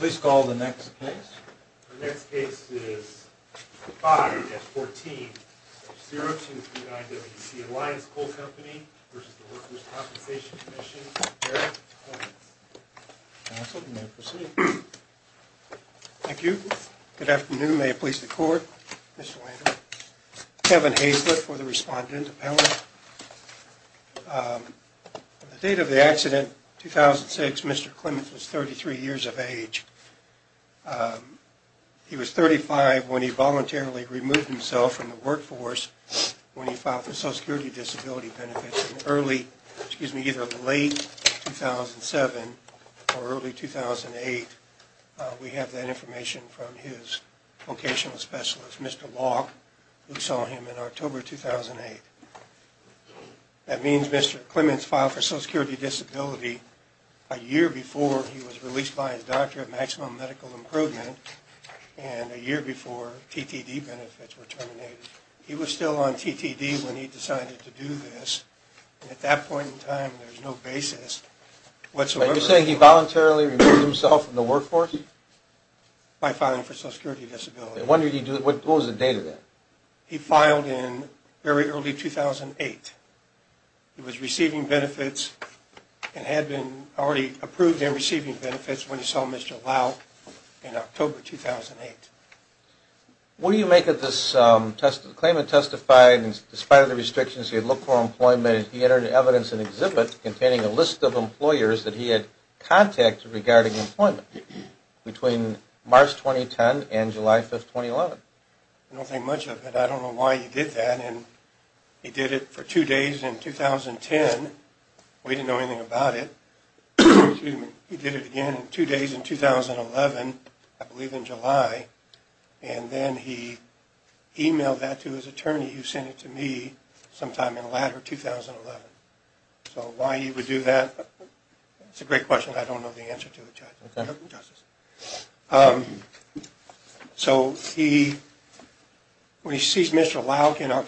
The next case is 5-14, 0239 W.C. Alliance Coal Company v. Workers' Compensation Comm'n Eric Collins, counsel, you may proceed. Thank you. Good afternoon. May it please the court, Mr. Landry. Kevin Haislip for the respondent. Thank you, Mr. Peller. The date of the accident, 2006, Mr. Clements was 33 years of age. He was 35 when he voluntarily removed himself from the workforce when he filed for Social Security Disability benefits in early, excuse me, either late 2007 or early 2008. We have that information from his vocational specialist, Mr. Law, who saw him in October 2008. That means Mr. Clements filed for Social Security Disability a year before he was released by his doctorate of maximum medical improvement and a year before TTD benefits were terminated. He was still on TTD when he decided to do this. At that point in time, there's no basis whatsoever. You're saying he voluntarily removed himself from the workforce? By filing for Social Security Disability. What was the date of that? He filed in very early 2008. He was receiving benefits and had been already approved in receiving benefits when he saw Mr. Law in October 2008. What do you make of this? Clements testified in spite of the restrictions he had looked for employment. He entered evidence in an exhibit containing a list of employers that he had contacted regarding employment between March 2010 and July 5, 2011. I don't think much of it. I don't know why he did that. He did it for two days in 2010. We didn't know anything about it. He did it again in two days in 2011, I believe in July, and then he emailed that to his attorney who sent it to me sometime in the latter 2011. So why he would do that, it's a great question. I don't know the answer to it, Judge. Okay. So Mr. Clements filed in and in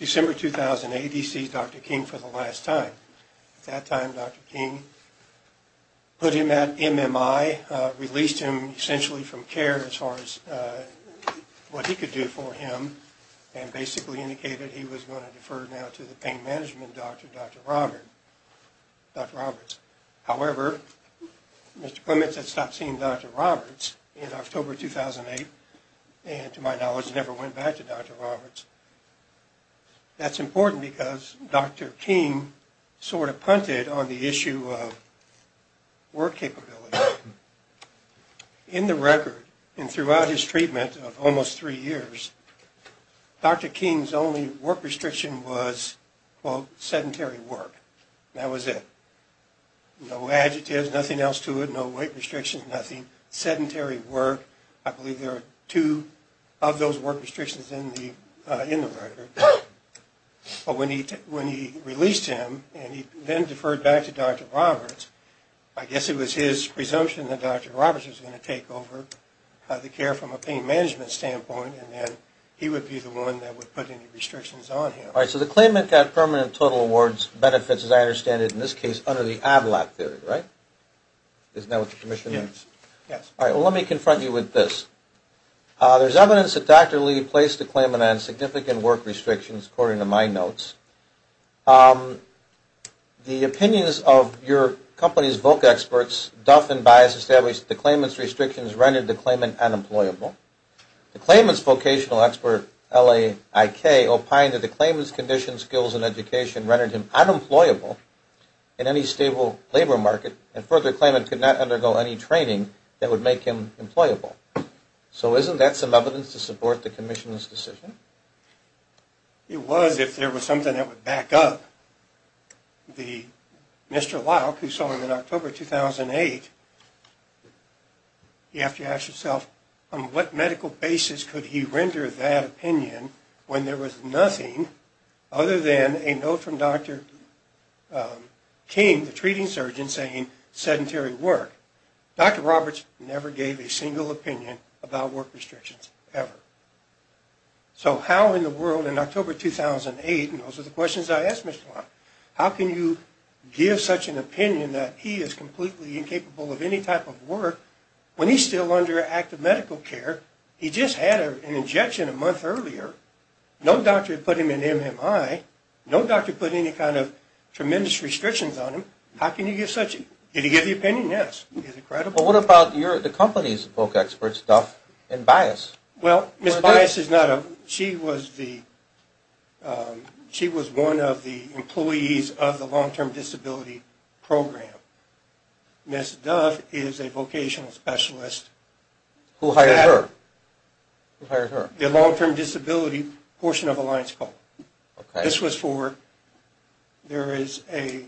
December 2008, he sees Dr. King for the last time. At that time, Dr. King put him at MMI, released him essentially from care as far as what he could do for him, and basically indicated he was going to defer now to the pain management doctor, Dr. Roberts. However, Mr. Clements had stopped seeing Dr. Roberts in October 2008, and to my knowledge never went back to Dr. Roberts. That's important because Dr. King sort of punted on the issue of work capability. In the record and throughout his treatment of almost three years, Dr. King's only work restriction was, quote, sedentary work. That was it. No adjectives, nothing else to it, no weight restrictions, nothing. Sedentary work, I believe there are two of those work restrictions in the record. But when he released him and he then deferred back to Dr. Roberts, I guess it was his presumption that Dr. Roberts was going to take over the care from a pain management standpoint, and then he would be the one that would put any restrictions on him. All right, so the claimant got permanent total awards, benefits, as I understand it in this case, under the ADLAT theory, right? Isn't that what the commission means? Yes. All right, well, let me confront you with this. There's evidence that Dr. Lee placed the claimant on significant work restrictions, according to my notes. The opinions of your company's VOC experts, Duff and Bias, established that the claimant's restrictions rendered the claimant unemployable. The claimant's vocational expert, LAIK, opined that the claimant's conditions, skills, and education rendered him unemployable in any stable labor market, and further, the claimant could not undergo any training that would make him employable. So isn't that some evidence to support the commission's decision? It was if there was something that would back up. Mr. Laik, who saw him in October 2008, you have to ask yourself, on what medical basis could he render that opinion when there was nothing other than a note from Dr. King, the treating surgeon, saying sedentary work. Dr. Roberts never gave a single opinion about work restrictions, ever. So how in the world, in October 2008, and those are the questions I asked Mr. Laik, how can you give such an opinion that he is completely incapable of any type of work when he's still under active medical care? He just had an injection a month earlier. No doctor put him in MMI. No doctor put any kind of tremendous restrictions on him. How can you give such an opinion? Did he give the opinion? Yes. But what about the company's VOC experts, Duff and Bias? Well, Ms. Bias was one of the employees of the long-term disability program. Ms. Duff is a vocational specialist. Who hired her? The long-term disability portion of Alliance Call. This was for, there is a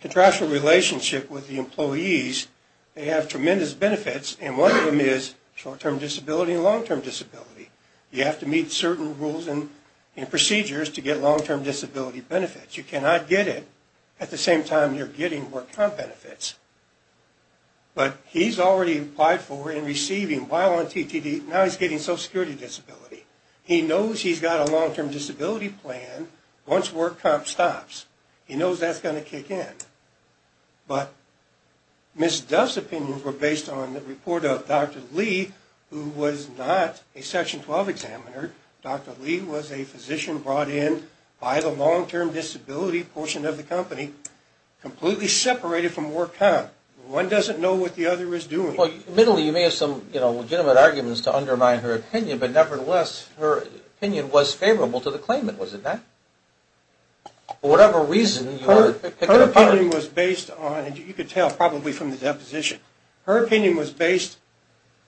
contractual relationship with the employees. They have tremendous benefits, and one of them is short-term disability and long-term disability. You have to meet certain rules and procedures to get long-term disability benefits. You cannot get it at the same time you're getting work comp benefits. But he's already applied for and receiving while on TTD, now he's getting social security disability. He knows he's got a long-term disability plan once work comp stops. He knows that's going to kick in. But Ms. Duff's opinions were based on the report of Dr. Lee, who was not a Section 12 examiner. Dr. Lee was a physician brought in by the long-term disability portion of the company, completely separated from work comp. One doesn't know what the other is doing. Admittedly, you may have some legitimate arguments to undermine her opinion, but nevertheless, her opinion was favorable to the claimant, was it not? For whatever reason, you are picking up on it. Her opinion was based on, and you can tell probably from the deposition, her opinion was based,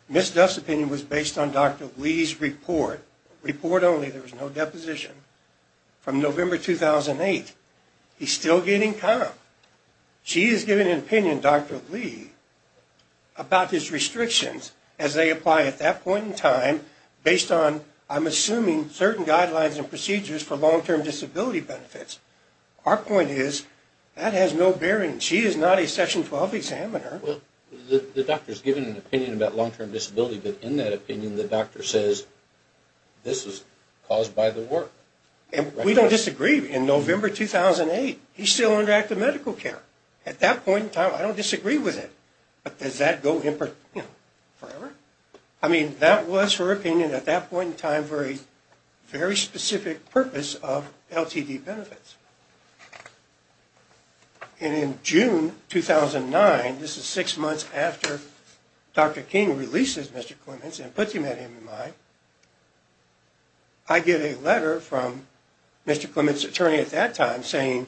Ms. Duff's opinion was based on Dr. Lee's report, report only, there was no deposition, from November 2008. He's still getting comp. She is giving an opinion, Dr. Lee, about his restrictions as they apply at that point in time, based on, I'm assuming, certain guidelines and procedures for long-term disability benefits. Our point is, that has no bearing. She is not a Section 12 examiner. Well, the doctor is giving an opinion about long-term disability, but in that opinion, the doctor says, this is caused by the work. And we don't disagree. In November 2008, he's still under active medical care. At that point in time, I don't disagree with it. But does that go forever? I mean, that was her opinion at that point in time for a very specific purpose of LTD benefits. And in June 2009, this is six months after Dr. King releases Mr. Clements and puts him at MMI, I get a letter from Mr. Clements' attorney at that time saying,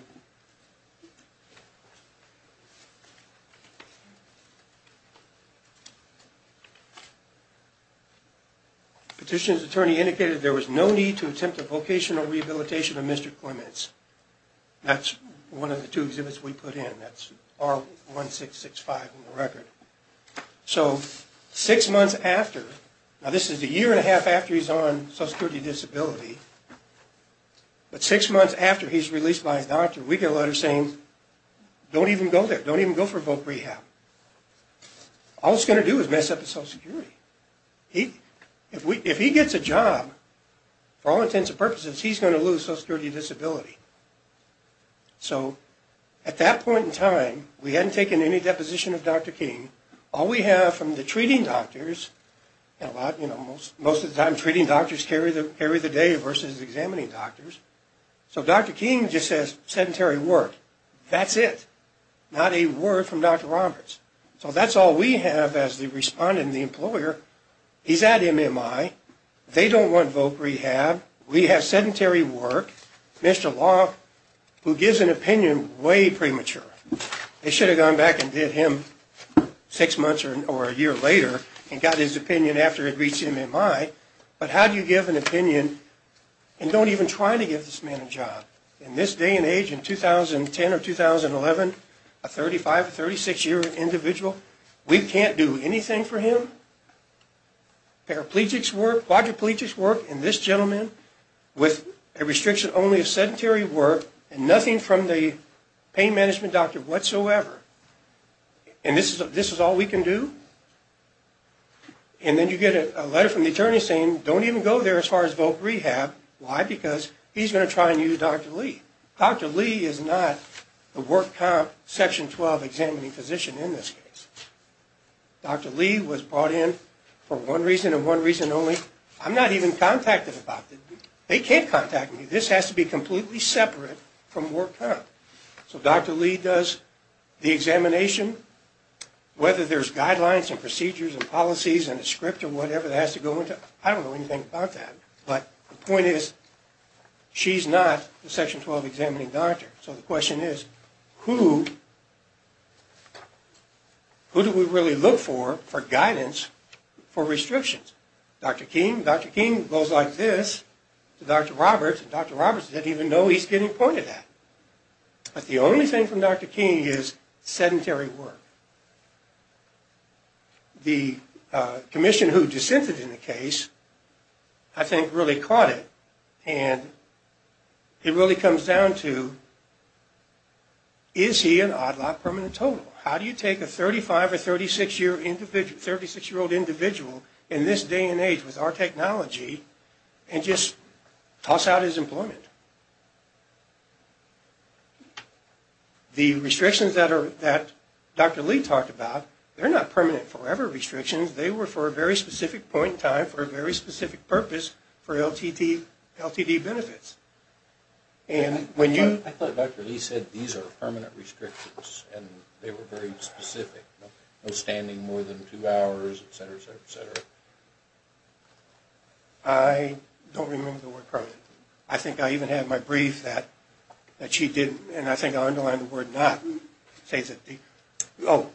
Petitioner's attorney indicated there was no need to attempt a vocational rehabilitation of Mr. Clements. That's one of the two exhibits we put in. That's R1665 in the record. So six months after, now this is a year and a half after he's on Social Security Disability, but six months after he's released by his doctor, we get a letter saying, Don't even go there. Don't even go for voc rehab. All it's going to do is mess up the Social Security. If he gets a job, for all intents and purposes, he's going to lose Social Security Disability. So at that point in time, we hadn't taken any deposition of Dr. King. All we have from the treating doctors, and a lot, you know, most of the time, treating doctors carry the day versus examining doctors. So Dr. King just says sedentary work. That's it. Not a word from Dr. Roberts. So that's all we have as the respondent and the employer. He's at MMI. They don't want voc rehab. We have sedentary work. Mr. Long, who gives an opinion way premature. They should have gone back and did him six months or a year later and got his opinion after it reached MMI. But how do you give an opinion and don't even try to give this man a job? In this day and age, in 2010 or 2011, a 35, 36-year-old individual, we can't do anything for him. Paraplegics work, quadriplegics work, and this gentleman with a restriction only of sedentary work and nothing from the pain management doctor whatsoever. And this is all we can do? And then you get a letter from the attorney saying don't even go there as far as voc rehab. Why? Because he's going to try and use Dr. Lee. Dr. Lee is not the work comp section 12 examining physician in this case. Dr. Lee was brought in for one reason and one reason only. I'm not even contacted about it. They can't contact me. This has to be completely separate from work comp. So Dr. Lee does the examination. Whether there's guidelines and procedures and policies and a script or whatever that has to go into it, I don't know anything about that. But the point is she's not the section 12 examining doctor. So the question is who do we really look for for guidance for restrictions? Dr. King? Dr. King goes like this to Dr. Roberts. Dr. Roberts doesn't even know he's getting pointed at. But the only thing from Dr. King is sedentary work. The commission who dissented in the case I think really caught it and it really comes down to is he an odd lot permanent total? How do you take a 35 or 36-year-old individual in this day and age with our technology and just toss out his employment? The restrictions that Dr. Lee talked about, they're not permanent forever restrictions. They were for a very specific point in time for a very specific purpose for LTD benefits. I thought Dr. Lee said these are permanent restrictions and they were very specific. No standing more than two hours, et cetera, et cetera, et cetera. I don't remember the word permanent. I think I even had my brief that she did. And I think I'll underline the word not.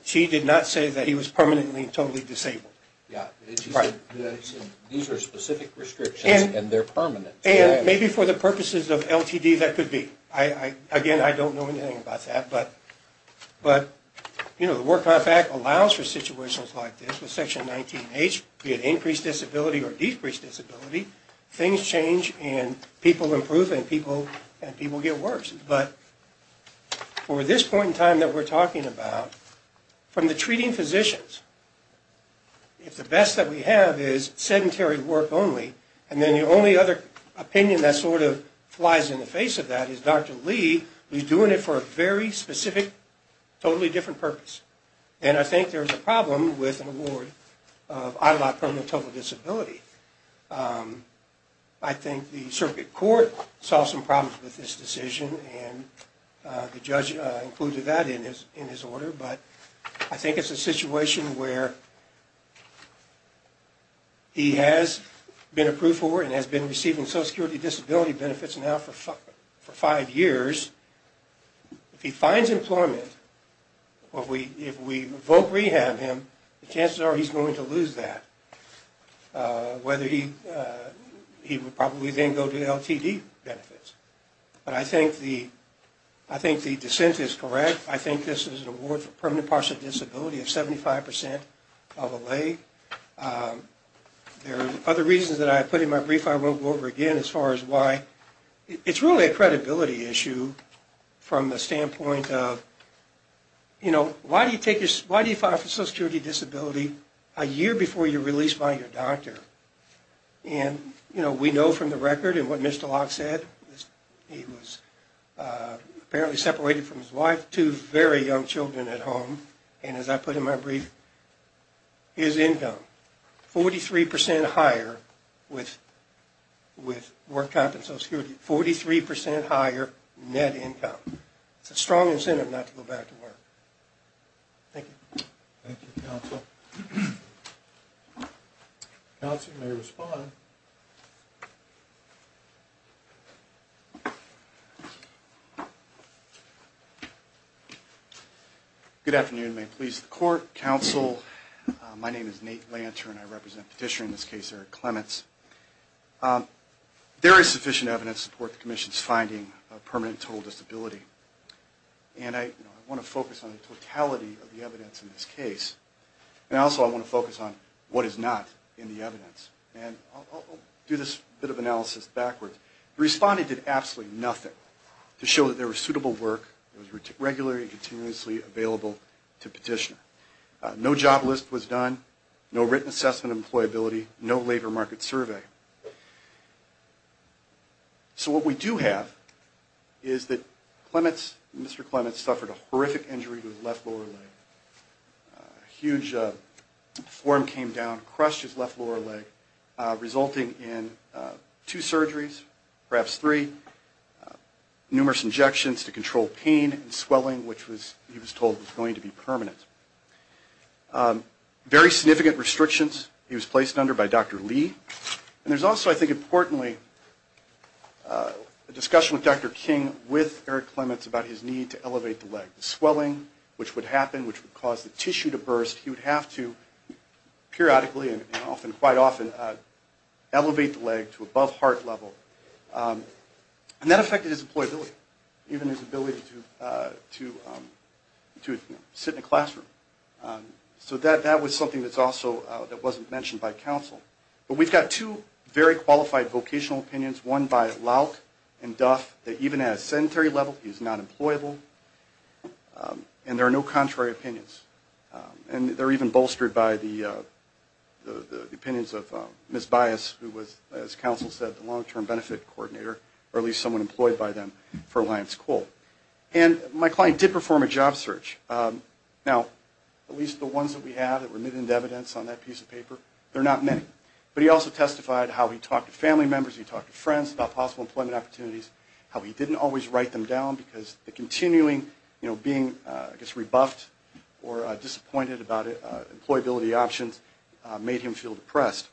She did not say that he was permanently totally disabled. Yeah. These are specific restrictions and they're permanent. And maybe for the purposes of LTD that could be. Again, I don't know anything about that. But, you know, the Work Life Act allows for situations like this. With Section 19H, be it increased disability or decreased disability, things change and people improve and people get worse. But for this point in time that we're talking about, from the treating physicians, if the best that we have is sedentary work only, and then the only other opinion that sort of flies in the face of that is Dr. Lee was doing it for a very specific, totally different purpose. And I think there's a problem with an award of ILOC permanent total disability. I think the circuit court saw some problems with this decision and the judge included that in his order. But I think it's a situation where he has been approved for and has been receiving social security disability benefits now for five years. If he finds employment or if we revoke rehab him, the chances are he's going to lose that, whether he would probably then go to LTD benefits. But I think the dissent is correct. I think this is an award for permanent partial disability of 75% of a lay. There are other reasons that I put in my brief I won't go over again as far as why. It's really a credibility issue from the standpoint of, you know, why do you file for social security disability a year before you're released by your doctor? And, you know, we know from the record and what Mr. Locke said, he was apparently separated from his wife, two very young children at home. And as I put in my brief, his income, 43% higher with work out of social security, 43% higher net income. It's a strong incentive not to go back to work. Thank you. Thank you, counsel. Counsel, you may respond. Good afternoon. May it please the court, counsel. My name is Nate Lantern. I represent the petitioner in this case, Eric Clements. There is sufficient evidence to support the commission's finding of permanent total disability. And I want to focus on the totality of the evidence in this case. And also I want to focus on what is not in the evidence. And I'll start with the evidence. I'll do this bit of analysis backwards. The respondent did absolutely nothing to show that there was suitable work. It was regularly and continuously available to the petitioner. No job list was done, no written assessment of employability, no labor market survey. So what we do have is that Clements, Mr. Clements, suffered a horrific injury to his left lower leg. A huge form came down, crushed his left lower leg, resulting in two surgeries, perhaps three, numerous injections to control pain and swelling, which he was told was going to be permanent. Very significant restrictions he was placed under by Dr. Lee. And there's also, I think importantly, a discussion with Dr. King with Eric Clements about his need to elevate the leg. The swelling, which would happen, which would cause the tissue to burst, he would have to periodically and quite often elevate the leg to above heart level. And that affected his employability, even his ability to sit in a classroom. So that was something that wasn't mentioned by counsel. But we've got two very qualified vocational opinions, one by Lauch and Duff, that even at a sedentary level, he's not employable, and there are no contrary opinions. And they're even bolstered by the opinions of Ms. Bias, who was, as counsel said, the long-term benefit coordinator, or at least someone employed by them for Alliance Coal. And my client did perform a job search. Now, at least the ones that we have that were mittened evidence on that piece of paper, there are not many. But he also testified how he talked to family members, he talked to friends about possible employment opportunities, how he didn't always write them down because the continuing, you know, being, I guess, rebuffed or disappointed about employability options made him feel depressed.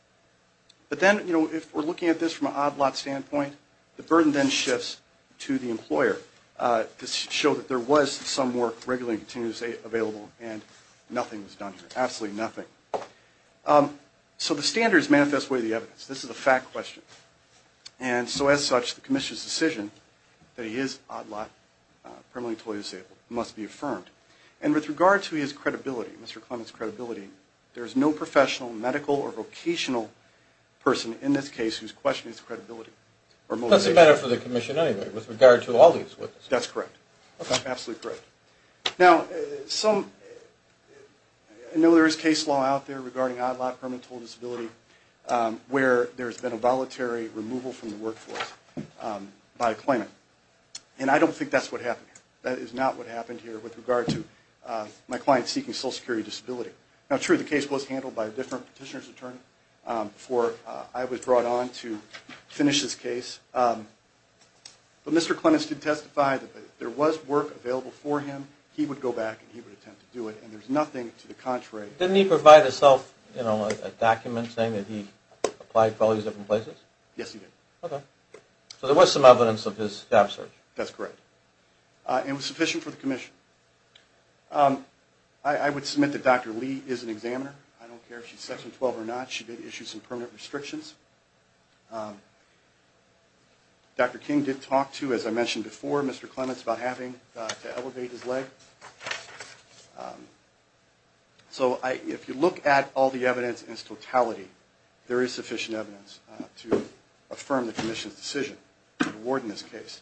But then, you know, if we're looking at this from an odd lot standpoint, the burden then shifts to the employer to show that there was some work regularly and continuously available and nothing was done here, absolutely nothing. So the standards manifest way the evidence. This is a fact question. And so as such, the commission's decision that he is odd lot, permanently disabled, must be affirmed. And with regard to his credibility, Mr. Clement's credibility, there is no professional, medical, or vocational person in this case whose question is credibility or motivation. That's a matter for the commission anyway, with regard to all these witnesses. That's correct. Okay. Absolutely correct. Now, I know there is case law out there regarding odd lot, permanently disabled, where there's been a voluntary removal from the workforce by employment. And I don't think that's what happened here. That is not what happened here with regard to my client seeking social security disability. Now, true, the case was handled by a different petitioner's attorney before I was brought on to finish this case. But Mr. Clement did testify that if there was work available for him, he would go back and he would attempt to do it. And there's nothing to the contrary. Didn't he provide himself a document saying that he applied for all these different places? Yes, he did. Okay. So there was some evidence of his job search. That's correct. And it was sufficient for the commission. I would submit that Dr. Lee is an examiner. I don't care if she's Section 12 or not. She did issue some permanent restrictions. Dr. King did talk to, as I mentioned before, Mr. Clement about having to elevate his leg. So if you look at all the evidence in its totality, there is sufficient evidence to affirm the commission's decision to award him this case.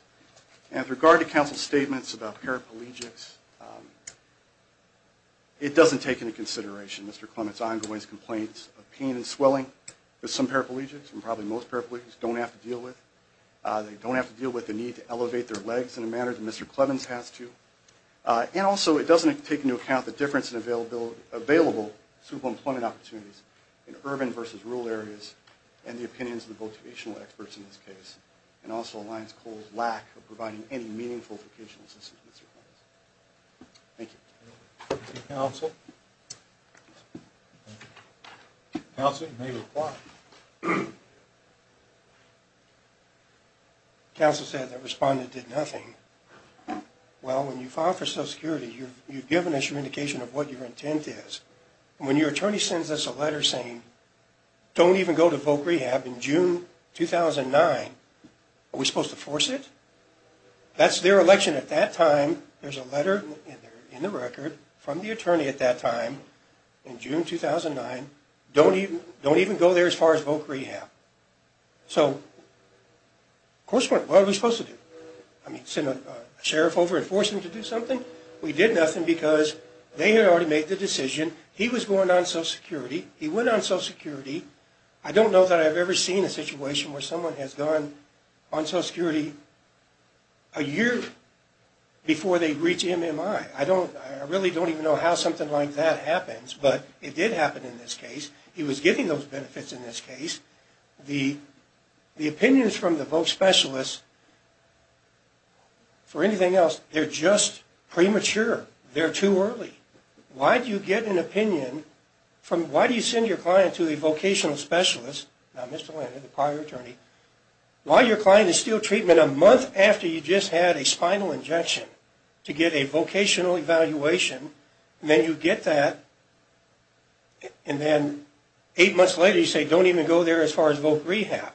And with regard to counsel's statements about paraplegics, it doesn't take into consideration Mr. Clement's ongoing complaints of pain and swelling. Some paraplegics, and probably most paraplegics, don't have to deal with the need to elevate their legs in a manner that Mr. Clements has to. And also, it doesn't take into account the difference in available super-employment opportunities in urban versus rural areas and the opinions of the vocational experts in this case. It also aligns Cole's lack of providing any meaningful vocational assistance to Mr. Clement. Thank you. Thank you, counsel. Counsel, you may reply. Counsel said the respondent did nothing. Well, when you file for Social Security, you've given us your indication of what your intent is. And when your attorney sends us a letter saying, don't even go to voc rehab in June 2009, are we supposed to force it? That's their election at that time. There's a letter in the record from the attorney at that time in June 2009. Don't even go there as far as voc rehab. So, of course, what are we supposed to do? I mean, send a sheriff over and force him to do something? We did nothing because they had already made the decision. He was going on Social Security. He went on Social Security. I don't know that I've ever seen a situation where someone has gone on Social Security a year before they reach MMI. I really don't even know how something like that happens, but it did happen in this case. He was getting those benefits in this case. The opinions from the voc specialists, for anything else, they're just premature. They're too early. Why do you get an opinion? Why do you send your client to a vocational specialist? Now, Mr. Lander, the prior attorney. Why your client is still treatment a month after you just had a spinal injection to get a vocational evaluation, and then you get that, and then eight months later you say, don't even go there as far as voc rehab.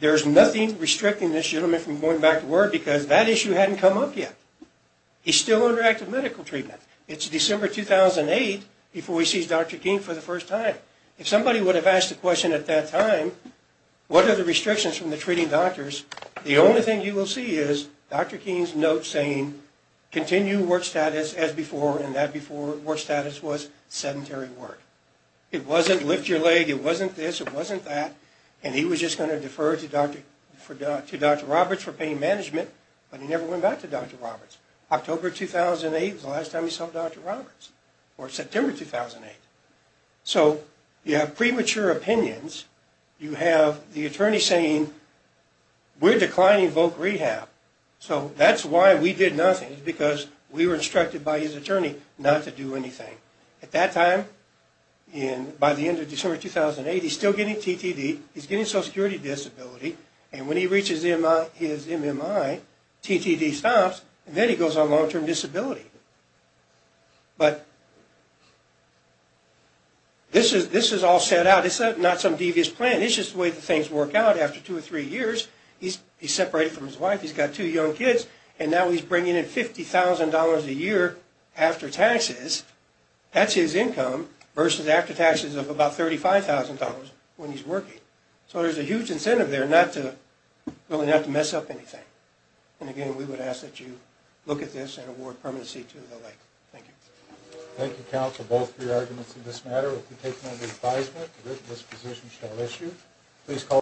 There's nothing restricting this gentleman from going back to work because that issue hadn't come up yet. He's still under active medical treatment. It's December 2008 before he sees Dr. King for the first time. If somebody would have asked the question at that time, what are the restrictions from the treating doctors, the only thing you will see is Dr. King's note saying, continue work status as before, and that before work status was sedentary work. It wasn't lift your leg. It wasn't this. It wasn't that. And he was just going to defer to Dr. Roberts for pain management, but he never went back to Dr. Roberts. October 2008 was the last time he saw Dr. Roberts, or September 2008. So you have premature opinions. You have the attorney saying, we're declining voc rehab. So that's why we did nothing, because we were instructed by his attorney not to do anything. At that time, by the end of December 2008, he's still getting TTD. He's getting social security disability, and when he reaches his MMI, TTD stops, and then he goes on long-term disability. But this is all set out. It's not some devious plan. It's just the way things work out after two or three years. He's separated from his wife. He's got two young kids, and now he's bringing in $50,000 a year after taxes. That's his income versus after taxes of about $35,000 when he's working. So there's a huge incentive there not to mess up anything. And, again, we would ask that you look at this and award permanency to the leg. Thank you. Thank you, counsel, both for your arguments in this matter. We take no advisement that this position shall rest you.